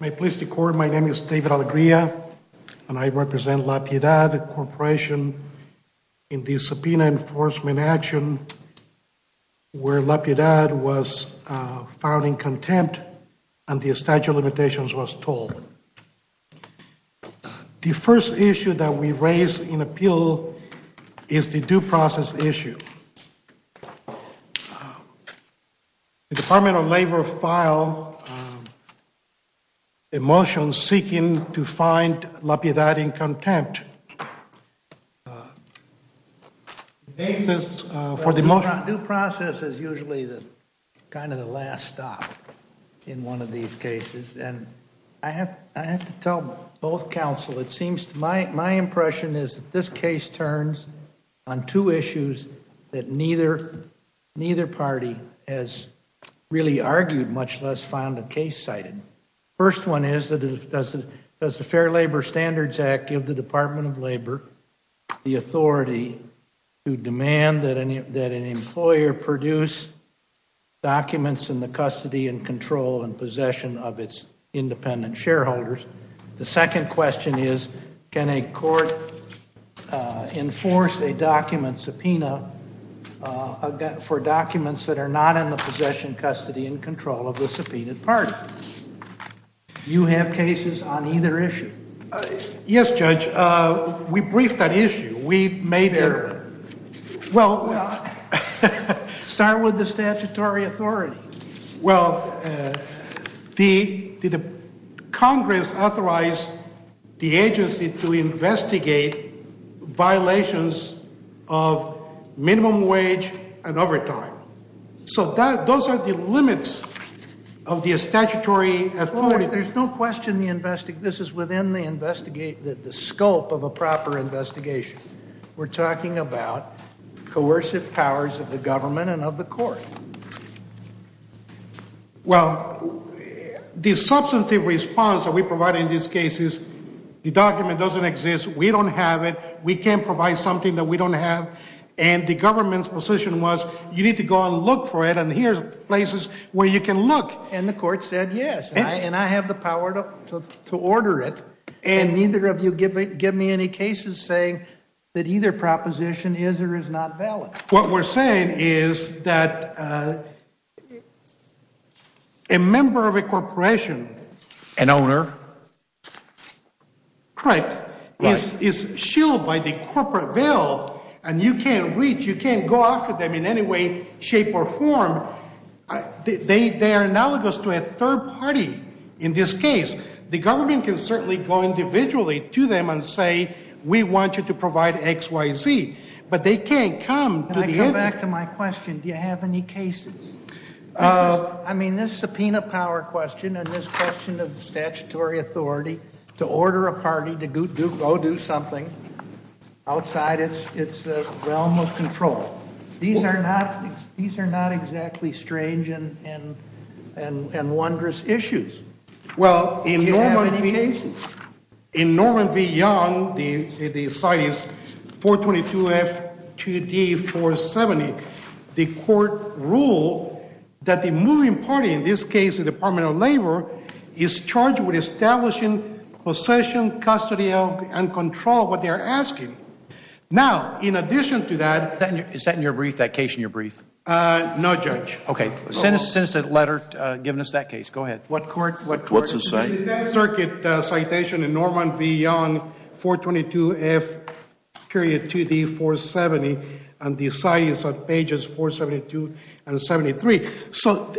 May it please the Court, my name is David Alegría and I represent La Piedad Corporation in the subpoena enforcement action where La Piedad was found in contempt and the statute of limitations was told. The first issue that we raise in appeal is the due process issue. The Department of Labor filed a motion seeking to find La Piedad in contempt. The basis for the motion due process is usually the kind of the last stop in one of these cases and I have I have to tell both counsel it seems to my my impression is this case turns on two issues that neither party has really argued much less found a case cited. First one is that does the Fair Labor Standards Act give the Department of Labor the authority to demand that an employer produce documents in the custody and control and subpoena for documents that are not in the possession custody and control of the subpoenaed party? Do you have cases on either issue? Yes Judge, we briefed that issue. We made it well start with the statutory authority. Well the Congress authorized the agency to investigate violations of minimum wage and overtime. So that those are the limits of the statutory authority. There's no question the invest this is within the investigate that the scope of a proper investigation. We're talking about coercive powers of the government and of the court. Well the substantive response that we provide in these cases the document doesn't exist. We don't have it. We can't provide something that we don't have and the government's position was you need to go and look for it and here's places where you can look. And the court said yes and I have the power to to order it and neither of you give me give me any cases saying that either proposition is or is not valid. What we're saying is that a member of a corporation. An owner. Correct. Is is shielded by the corporate bill and you can't reach you can't go after them in any way shape or form. They they are analogous to a third party in this case. The government can certainly go individually to them and say we want you to provide xyz. But they can't come. Can I go back to my question? Do you have any cases? I mean this subpoena power question and this question of statutory authority to order a party to go do something outside it's it's a realm of control. These are not these are not exactly strange and and and and wondrous issues. Well in in Norman v Young the the site is 422 f 2d 470. The court ruled that the moving party in this case the Department of Labor is charged with establishing possession custody of and control of what they are asking. Now in addition to that. Is that in your brief that case in your brief? Uh no judge. Okay send us a letter uh giving us that case. Go ahead. What court what what's it say? Circuit citation in Norman v Young 422 f period 2d 470 and the site is on pages 472 and 73. So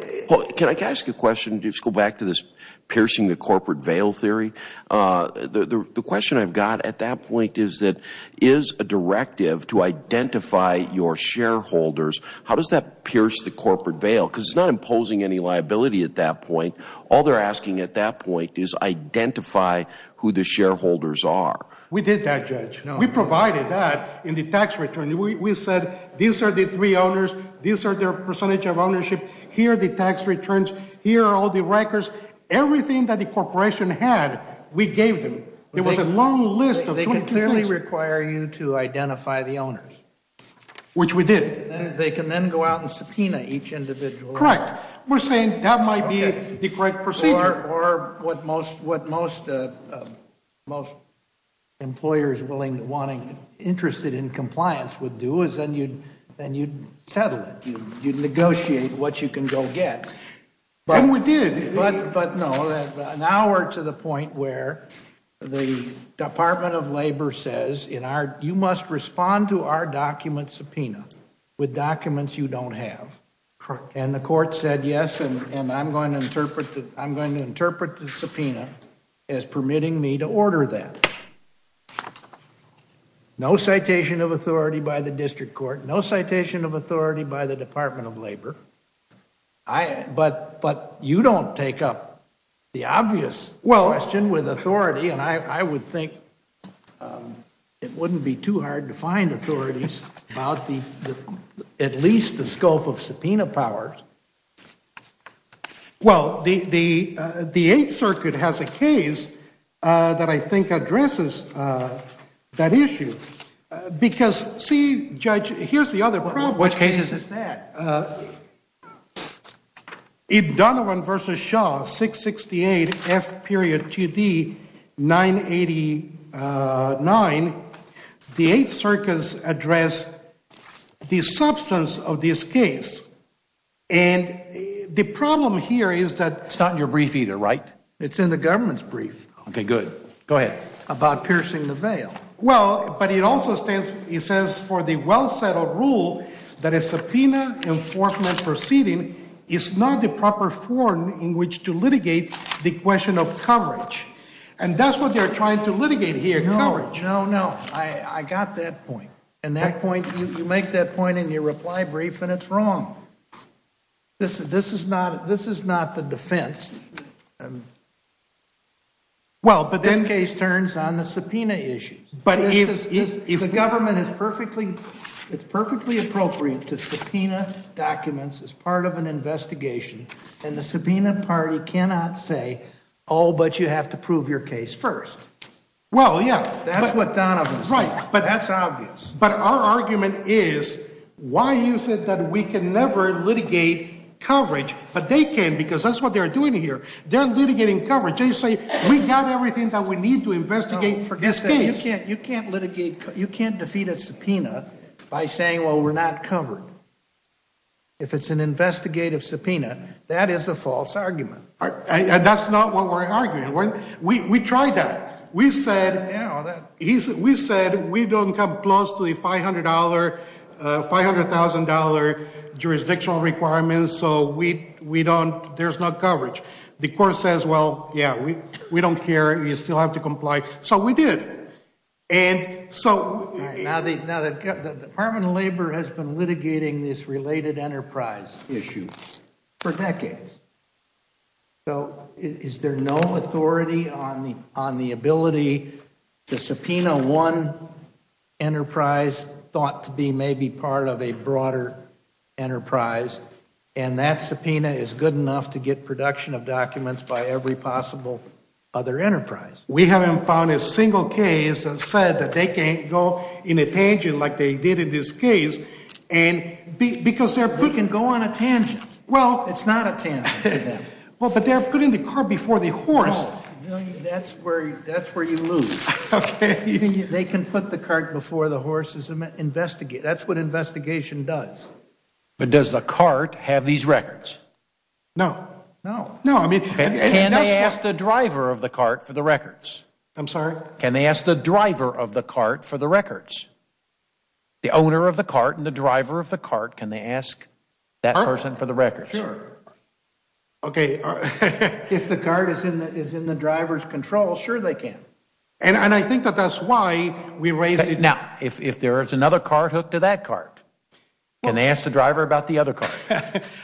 can I ask a question? Just go back to this piercing the corporate veil theory. Uh the the question I've got at that point is that is a directive to identify your shareholders. How does that pierce the corporate veil? Because it's not imposing any liability at that point. All they're asking at that point is identify who the shareholders are. We did that judge. We provided that in the tax return. We we said these are the three owners. These are their percentage of ownership. Here are the tax returns. Here are all the records. Everything that the corporation had we gave them. It was a long list of they can clearly require you to identify the owners which we did. They can then go out and subpoena each individual. Correct. We're saying that might be the correct procedure or what most what most uh most employers willing wanting interested in what you can go get. And we did. But but no that now we're to the point where the Department of Labor says in our you must respond to our document subpoena with documents you don't have. Correct. And the court said yes and and I'm going to interpret that I'm going to interpret the subpoena as permitting me to order that. No citation of authority by the I but but you don't take up the obvious. Well. Question with authority and I I would think it wouldn't be too hard to find authorities about the at least the scope of subpoena powers. Well the the uh the Eighth Circuit has a case uh that I think addresses uh that issue. Because see Judge here's the other problem. Which case is that? If Donovan versus Shaw 668 F period 2D 989 the Eighth Circus address the substance of this case and the problem here is that. It's not in your brief either right? It's in the government's brief. Okay good. Go ahead. About piercing the veil. Well but it also stands he says for the well settled rule that a subpoena enforcement proceeding is not the proper form in which to litigate the question of coverage. And that's what they're trying to litigate here. No no no I I got that point. And that point you make that point in your reply brief and it's wrong. This this is not this is not the defense. Well but this case turns on the subpoena issues. But if the government is perfectly it's perfectly appropriate to subpoena documents as part of an investigation and the subpoena party cannot say oh but you have to prove your case first. Well yeah that's what Donovan said. Right but that's obvious. But our argument is why you said that we can never litigate coverage but they can because that's what they're doing here. They're litigating coverage. They say we got everything that we need to investigate this case. You can't you can't litigate you can't defeat a subpoena by saying well we're not covered. If it's an investigative subpoena that is a false argument. That's not what we're arguing. We we tried that. We said we said we don't come close to the five hundred dollar five hundred thousand dollar jurisdictional requirements. So we we don't there's no coverage. The court says well yeah we we don't care. You still have to comply. So we did. And so now the now the Department of Labor has been litigating this related enterprise issue for decades. So is there no authority on the on the ability to subpoena one enterprise thought to be maybe part of a broader enterprise and that subpoena is good enough to get production of documents by every possible other enterprise. We haven't found a single case that said that they can't go in a tangent like they did in this case and because they can go on a tangent. Well it's not a tangent. Well but they're putting the car before the horse. That's where that's where you lose. Okay. They can put the cart before the horses and investigate. That's what investigation does. But does the cart have these records? No. No. No. I mean can they ask the driver of the cart for the records? I'm sorry. Can they ask the driver of the cart for the records? The owner of the cart and the driver of the cart. Can they ask that person for the records? Sure. Okay. If the cart is in that is in the driver's control sure they can. And I think that that's why we raised it. Now if if there is another car hooked to that cart can they ask the driver about the other car?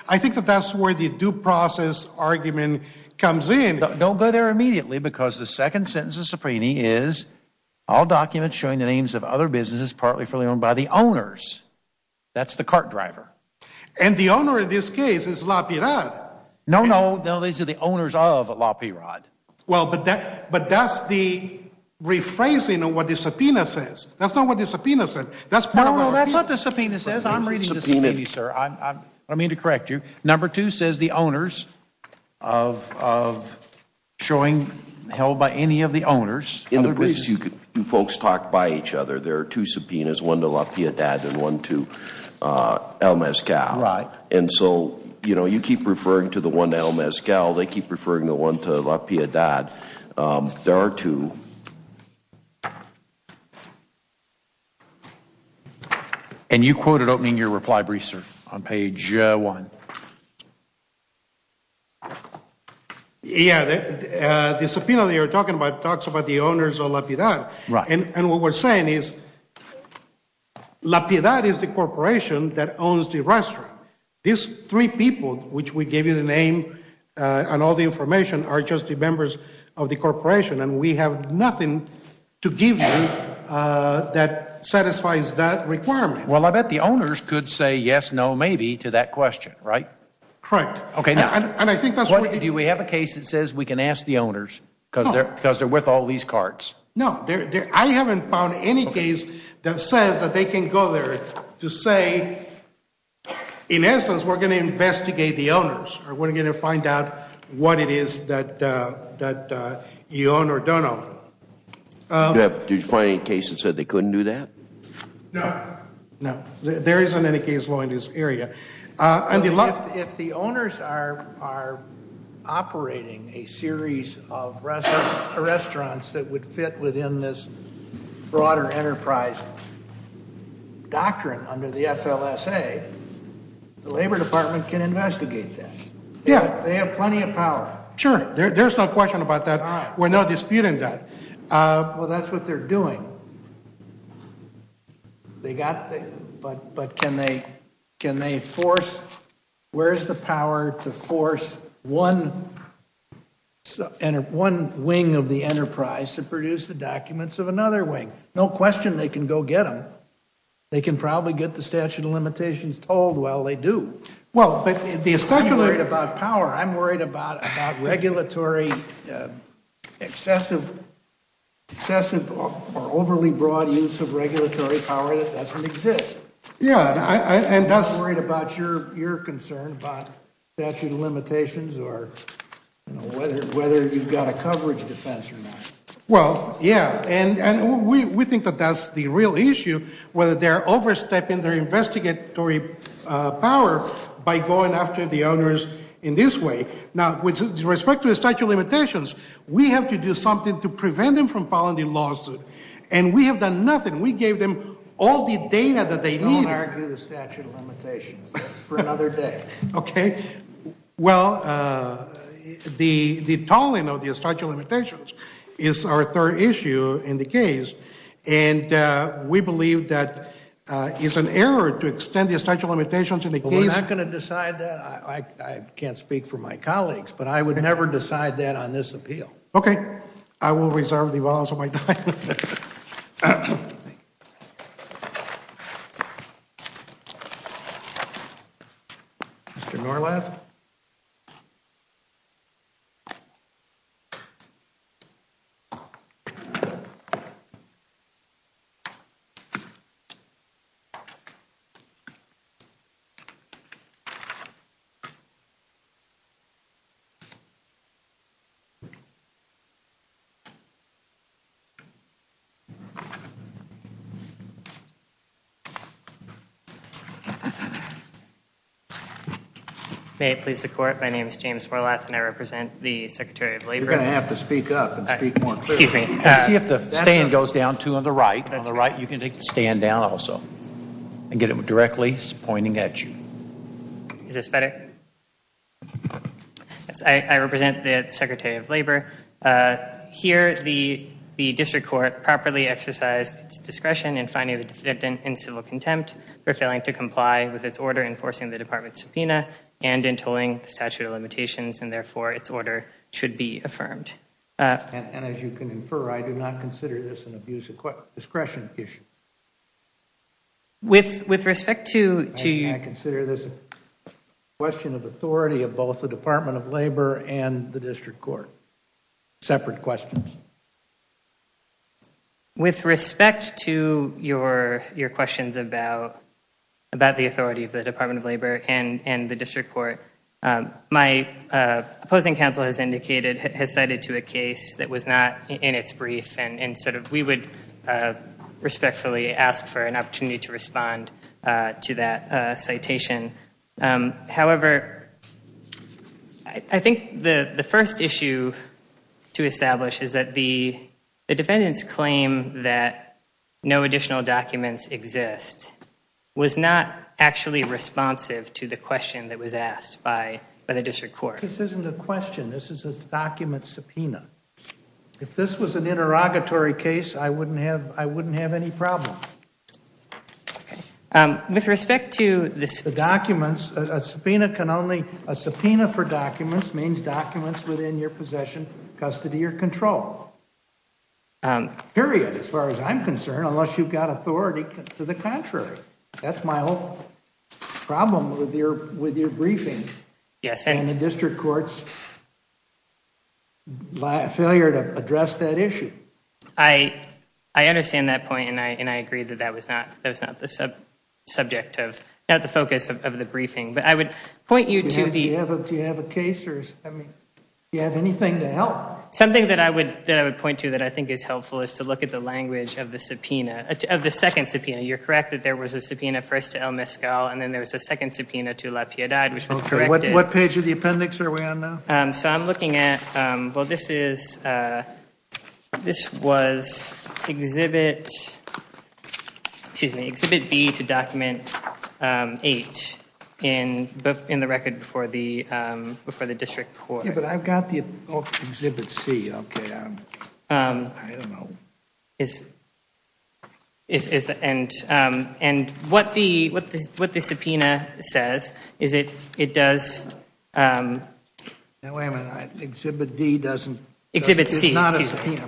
I think that that's where the due process argument comes in. Don't go there immediately because the second sentence of all documents showing the names of other businesses partly fully owned by the owners that's the cart driver. And the owner in this case is La Pirod. No. No. No. These are the owners of La Pirod. Well but that but that's the rephrasing of what the subpoena says. That's not what the subpoena said. That's what the subpoena says. I'm reading the subpoena sir. I mean to correct you. Number two says the owners of of showing held by any of the owners. In the briefs you folks talk by each other. There are two subpoenas. One to La Pirod and one to El Mezcal. Right. And so you know you keep referring to the one to El Mezcal. They keep referring the one to La Pirod. There are two. And you quoted opening your reply brief sir on page one. Yeah. The subpoena that you're talking about talks about the owners of La Pirod. Right. And what we're saying is La Pirod is the corporation that owns the restaurant. These three people which we gave you the name and all the information are just the members of the corporation and we have nothing to give you that satisfies that requirement. Well I bet the owners could say yes, no, maybe to that question. Right? Correct. Okay. Do we have a case that says we can ask the owners because they're because they're with all these cards? No. I haven't found any case that says that they can go there to say in essence we're going to investigate the owners or we're going to find out what it is that that you own or don't own. Did you find any case that said they couldn't do that? No. No. There isn't any case law in this area. If the owners are operating a series of restaurants that would fit within this broader enterprise doctrine under the FLSA, the labor department can investigate that. Yeah. They have plenty of power. Sure. There's no question about that. We're not disputing that. Well that's what they're doing. They got, but can they force, where's the power to force one wing of the enterprise to produce the documents of another wing? No question they can go get them. They can probably get the statute of limitations told while they do. Well, but the establishment. I'm worried about power. I'm worried about regulatory excessive or overly broad use of regulatory power that doesn't exist. Yeah. And that's worried about your concern about statute of limitations or whether you've got a coverage defense or not. Well, yeah. And we think that that's the real issue, whether they're overstepping their investigatory power by going after the owners in this way. Now, with respect to the statute of limitations, we have to do something to prevent them from filing the lawsuit. And we have done nothing. We gave them all the data that they need. Don't argue the statute of limitations. That's for another day. Okay. Well, the tolling of the statute of limitations is our third issue in the case. And we believe that it's an error to extend the statute of limitations in the case. We're not going to decide that. I can't speak for my colleagues, but I would never decide that on this appeal. Okay. I will reserve the balance of my time. May it please the court, my name is James Morlath and I represent the Secretary of Labor. You're going to have to speak up and speak more clearly. Excuse me. See if the stand goes down too on the right, you can stand down also and get it directly pointing at you. Is this better? Yes, I represent the Secretary of Labor. Here the district court properly exercised its discretion in finding the defendant in civil contempt for failing to comply with its order enforcing the department's subpoena and in tolling the statute of limitations and therefore its order should be issued. I consider this a question of authority of both the Department of Labor and the district court. Separate questions. With respect to your questions about the authority of the Department of Labor and the district court, my opposing counsel has cited to a case that was not in its brief and we would respectfully ask for an opportunity to respond to that citation. However, I think the first issue to establish is that the defendant's claim that no additional documents exist was not actually responsive to the question that was asked by the district court. This isn't a question, this is a document subpoena. If this was an interrogatory case, I wouldn't have any problem. A subpoena for documents means documents within your possession, custody, or control. Period, as far as I'm concerned, unless you've got authority to the district court's failure to address that issue. I understand that point and I agree that that was not the focus of the briefing. Do you have a case? Do you have anything to help? Something that I would point to that I think is helpful is to look at the language of the second subpoena. You're correct that there was a subpoena first to El Mezcal and then there was a second subpoena to El Mezcal. I'm looking at, well this was exhibit B to document 8 in the record before the district court. I've got exhibit C. What the subpoena says is it does exhibit C. It's exhibit C and the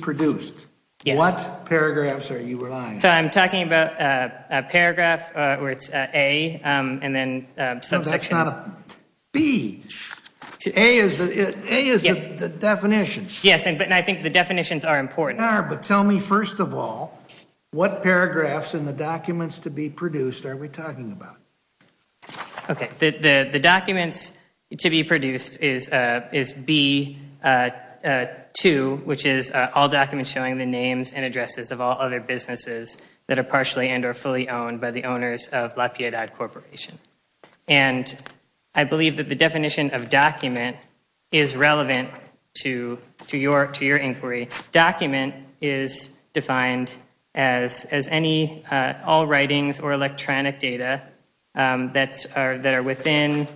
produced. What paragraphs are you relying on? I'm talking about a paragraph where it's A and then a subsection. No, that's not a B. A is the definition. Yes, and I think the definitions are important. They are, but tell me first of all, what paragraphs in the documents to be produced are we talking about? The documents to be produced is B2, which is all documents showing the names and addresses of all other businesses that are partially and or fully owned by the owners of La Piedad Corporation. I believe that the definition of document is relevant to your inquiry. Document is defined as any, all writings or electronic data that are within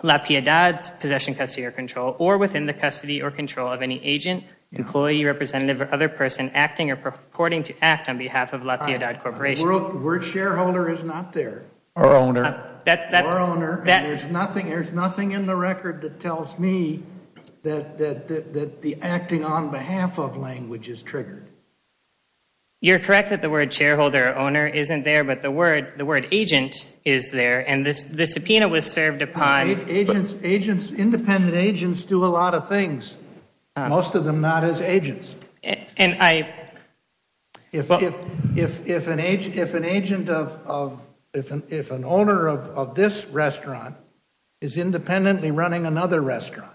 La Piedad's possession, custody, or control or within the custody or control of any agent, employee, representative, or other person acting or purporting to act on behalf of La Piedad Corporation. The word shareholder is not there. Or owner. Or owner. There's nothing in the record that tells me that the acting on behalf of language is triggered. You're correct that the word shareholder or owner isn't there, but the word agent is there, and the subpoena was served upon. Independent agents do a lot of things. Most of them not as agents. If an agent of, if an owner of this restaurant is independently running another restaurant,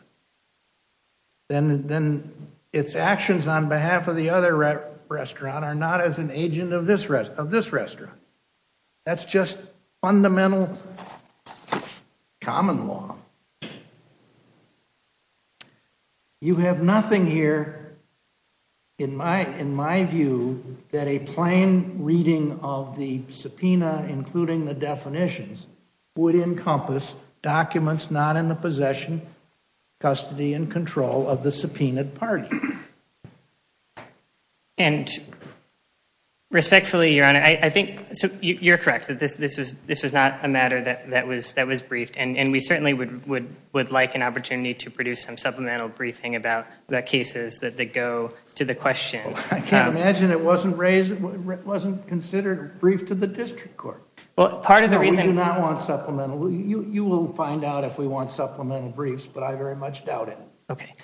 then its actions on behalf of the other restaurant are not as an agent of this restaurant. That's just fundamental common law. You have nothing here, in my view, that a plain reading of the subpoena, including the definitions, would encompass documents not in the possession, custody, and control of the subpoenaed party. And respectfully, Your Honor, I think you're correct that this was not a matter that was briefed, and we certainly would like an opportunity to produce some supplemental briefing about the cases that go to the question. I can't imagine it wasn't considered briefed to the district court. We do not want supplemental. You will find out if we want supplemental briefs, but I very much doubt it. Okay.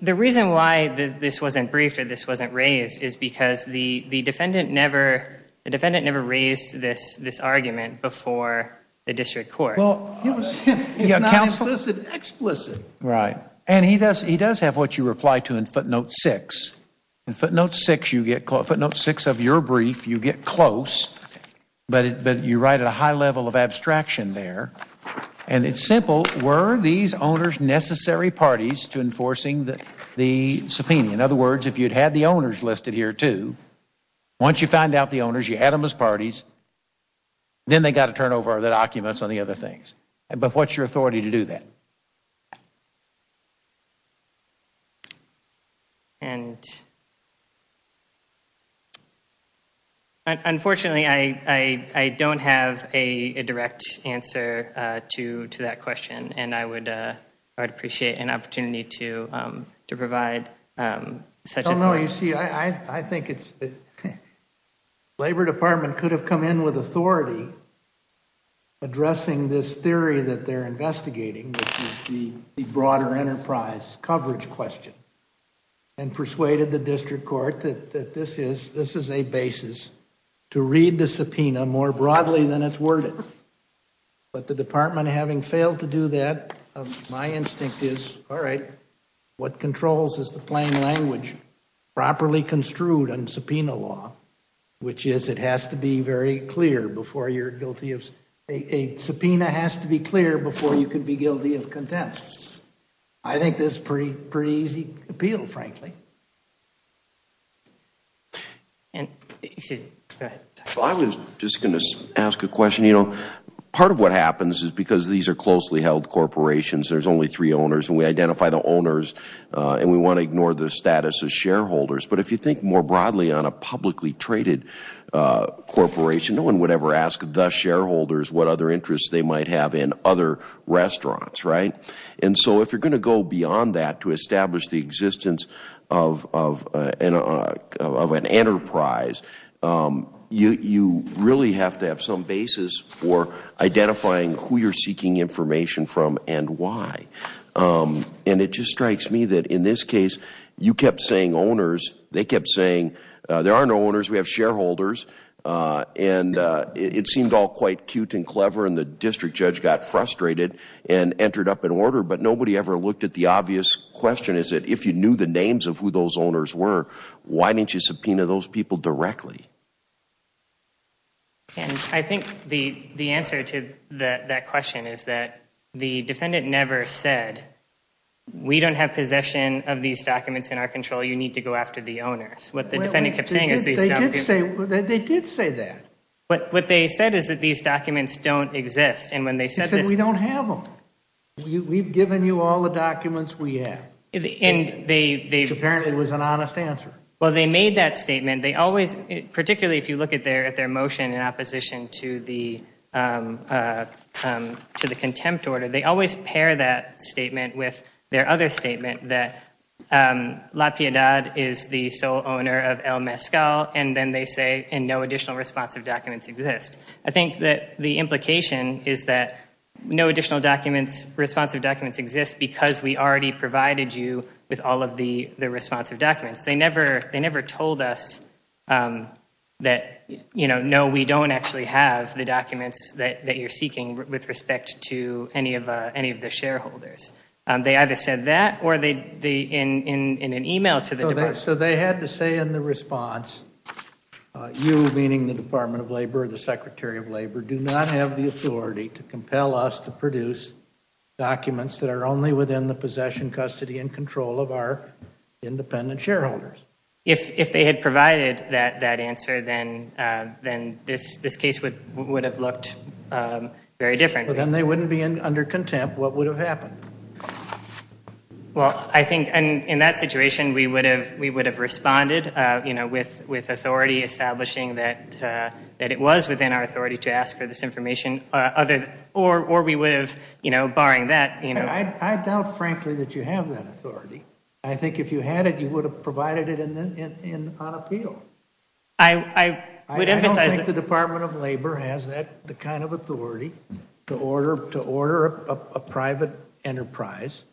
The reason why this wasn't briefed or this wasn't raised is because the defendant never raised this argument before the district court. It's not explicit. Right. And he does have what you reply to in footnote 6. In footnote 6 of your brief, you get close, but you write at a high level of abstraction there. And it's simple. Were these owners necessary parties to enforcing the subpoena? In other words, if you'd had the owners listed here, too, once you find out the owners, you had them as But what's your authority to do that? Unfortunately, I don't have a direct answer to that question, and I would appreciate an opportunity to provide such a No, no. You see, I think it's a good question. The Labor Department could have come in with authority addressing this theory that they're investigating, which is the broader enterprise coverage question, and persuaded the district court that this is a basis to read the subpoena more broadly than it's worded. But the department, having failed to do that, my instinct is, all right, what controls is the plain language properly construed in subpoena law, which is it has to be very clear before you're guilty of a subpoena has to be clear before you can be guilty of contempt. I think this is a pretty easy appeal, frankly. I was just going to ask a question. Part of what happens is because these are closely held corporations, there's only three owners, and we identify the owners, and we want to ignore the status of shareholders. But if you think more broadly on a publicly traded corporation, no one would ever ask the shareholders what other interests they might have in other restaurants, right? And so if you're going to go beyond that to establish the existence of an enterprise, you really have to have some basis for identifying who you're seeking information from and why. And it just strikes me that in this case, you kept saying owners, they kept saying, there are no owners, we have shareholders, and it seemed all quite cute and clever, and the district judge got frustrated and entered up an order, but nobody ever looked at the obvious question is that if you knew the names of who those owners were, why didn't you subpoena those people directly? And I think the answer to that question is that the defendant never said, we don't have possession of these documents in our control, you need to go after the owners. What the defendant kept saying is they did say that. But what they said is that these documents don't exist. And when they said this, we don't have them. We've given you all the documents we have. Which apparently was an honest answer. Well, they made that statement. They always, particularly if you look at their motion in opposition to the contempt order, they always pair that statement with their other statement that La Piedad is the sole owner of El Mezcal, and then they say, and no additional responsive documents exist. I think that the implication is that no additional responsive documents exist because we already provided you with all of the responsive documents. They never told us that, no, we don't actually have the documents that you're seeking with respect to any of the shareholders. They either said that or in an email to the department. So they had to say in the response, you, meaning the Department of Labor, the Secretary of Labor, do not have the authority to compel us to produce documents that are only within the possession, custody, and control of our independent shareholders. If they had provided that answer, then this case would have looked very different. Then they wouldn't be under contempt. What would have happened? Well, I think in that situation, we would have responded with authority establishing that it was within our authority to ask for this information, or we would have, you know, barring that. I doubt, frankly, that you have that authority. I think if you had it, you would have provided it on appeal. I don't think the Department of Labor has the kind of authority to order a private enterprise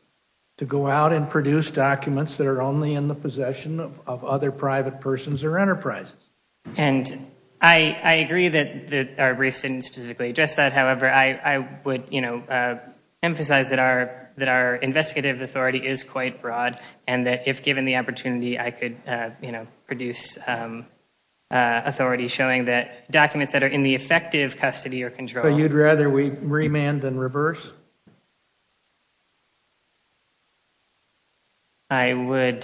to go out and produce documents that are only in the custody or control. And I agree that our briefs didn't specifically address that. However, I would, you know, emphasize that our investigative authority is quite broad and that if given the opportunity, I could, you know, produce authority showing that documents that are in the effective custody or control. So you'd rather we remand than reverse? I would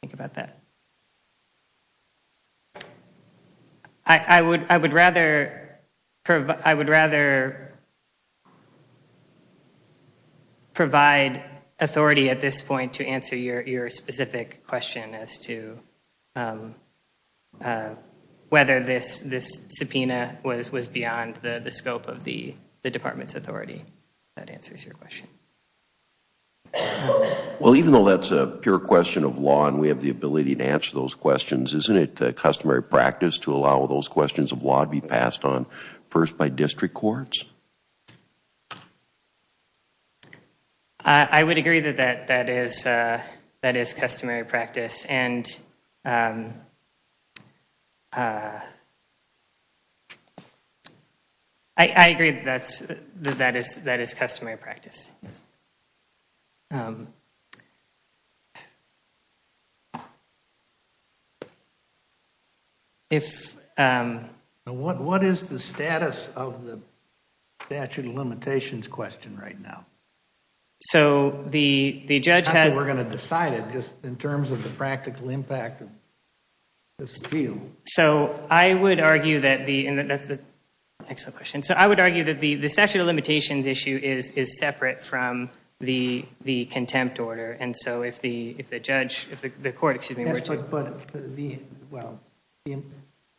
think about that. I would rather provide authority at this point to answer your specific question as to whether this subpoena was beyond the scope of the department's authority. That answers your question. Well, even though that's a pure question of law and we have the practice to allow those questions of law to be passed on first by district courts. I would agree that that is customary practice. And I agree that that is customary practice. And what is the status of the statute of limitations question right now? So the judge has... We're going to decide it just in terms of the practical impact of this appeal. So I would argue that the statute of limitations issue is separate from the contempt order. And so if the judge, if the court, excuse me...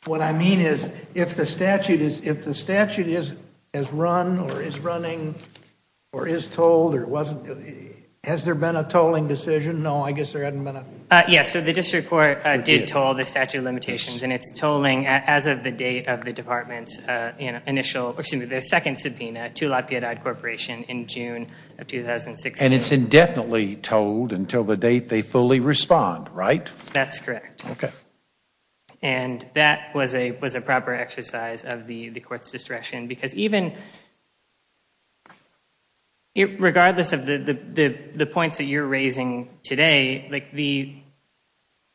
What I mean is if the statute is run or is running or is told or wasn't, has there been a tolling decision? No, I guess there hasn't been a... Yes, so the district court did toll the statute of limitations and it's tolling as of the date of the department's initial, excuse me, the second subpoena to La Piedade Corporation in June of 2016. And it's indefinitely tolled until the date they fully respond, right? That's correct. And that was a proper exercise of the court's discretion because even regardless of the points that you're raising today,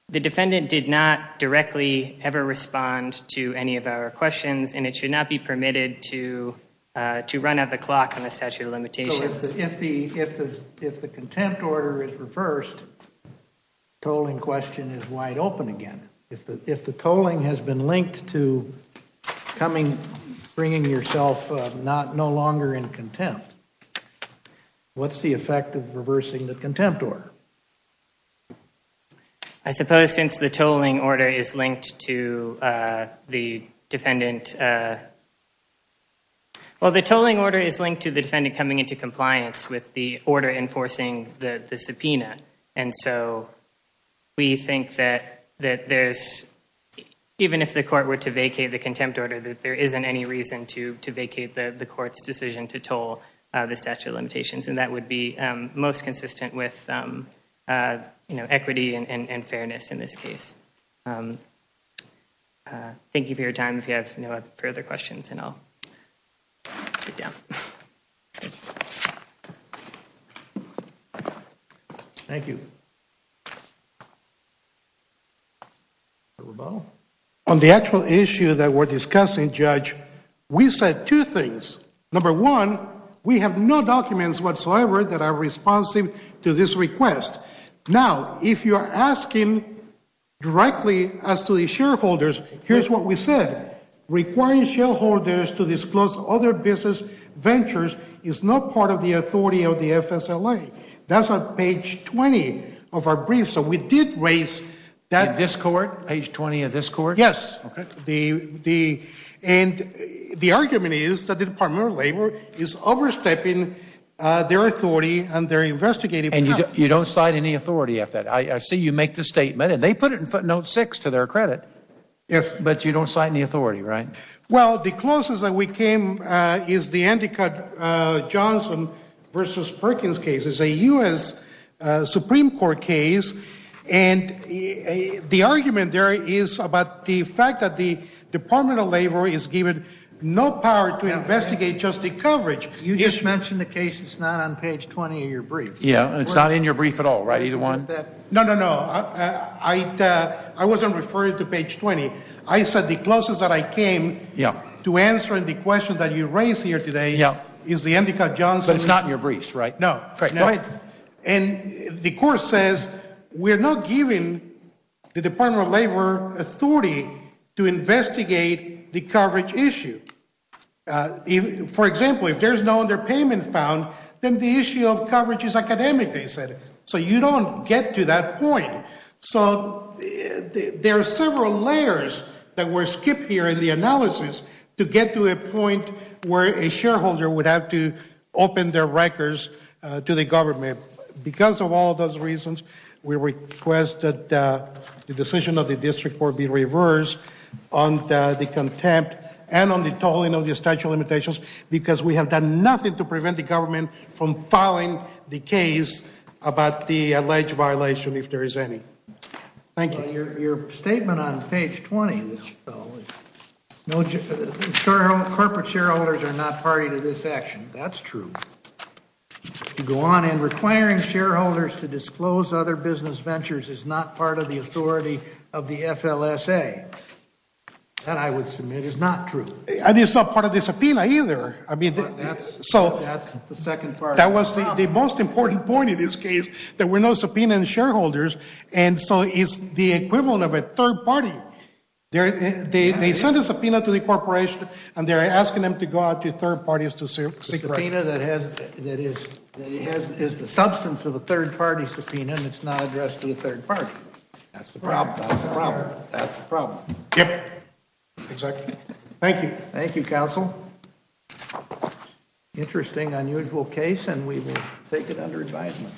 the defendant did not directly ever respond to any of our questions and it should not be permitted to run out the clock on the statute of limitations. If the contempt order is reversed, the tolling question is wide open again. If the tolling has been linked to bringing yourself no longer in contempt, what's the effect of reversing the contempt order? I suppose since the tolling order is linked to the defendant... Well, the tolling order is linked to the defendant coming into compliance with the order enforcing the subpoena. And so we think that there's, even if the court were to vacate the contempt order, that there isn't any reason to vacate the court's decision to toll the statute of limitations. And that would be most consistent with equity and fairness in this case. Thank you for your time. If you have no further questions and I'll sit down. Thank you. On the actual issue that we're discussing, Judge, we said two things. Number one, we have no documents whatsoever that are responsive to this request. Now, if you're asking directly as to the shareholders, here's what we said. Requiring shareholders to disclose other business ventures is not part of the authority of the FSLA. That's on page 20 of our brief. So we did raise that... In this court? Page 20 of this court? Yes. And the argument is that the Department of Labor is overstepping their authority and they're investigating without... And they put it in footnote six to their credit. But you don't cite any authority, right? Well, the closest that we came is the Andy Cutt Johnson versus Perkins case. It's a U.S. Supreme Court case. And the argument there is about the fact that the Department of Labor is given no power to investigate just the coverage. You just mentioned the case that's not on page 20 of your brief. Yeah. And it's not in your brief at all, right? Either one? No, no, no. I wasn't referring to page 20. I said the closest that I came to answering the question that you raised here today is the Andy Cutt Johnson... But it's not in your brief, right? No. And the court says we're not giving the Department of Labor authority to investigate the coverage issue. For example, if there's no underpayment found, then the issue of coverage is academic, they said. So you don't get to that point. So there are several layers that were skipped here in the analysis to get to a point where a shareholder would have to open their records to the government. Because of all those reasons, we request that the decision of the district court be reversed on the contempt and on the statute of limitations, because we have done nothing to prevent the government from filing the case about the alleged violation, if there is any. Thank you. Your statement on page 20, Corporate shareholders are not party to this action. That's true. To go on and requiring shareholders to disclose other business ventures is not part of the authority of the FLSA. That, I would submit, is not true. And it's not part of the subpoena either. I mean, so that's the second part. That was the most important point in this case. There were no subpoena and shareholders. And so it's the equivalent of a third party. They send a subpoena to the corporation and they're asking them to go out to third parties to seek. Subpoena that has, that is, is the substance of a third party subpoena and it's not addressed to the third party. That's the problem. That's the problem. Yep. Exactly. Thank you. Thank you, counsel. Interesting, unusual case, and we will take it under advisement.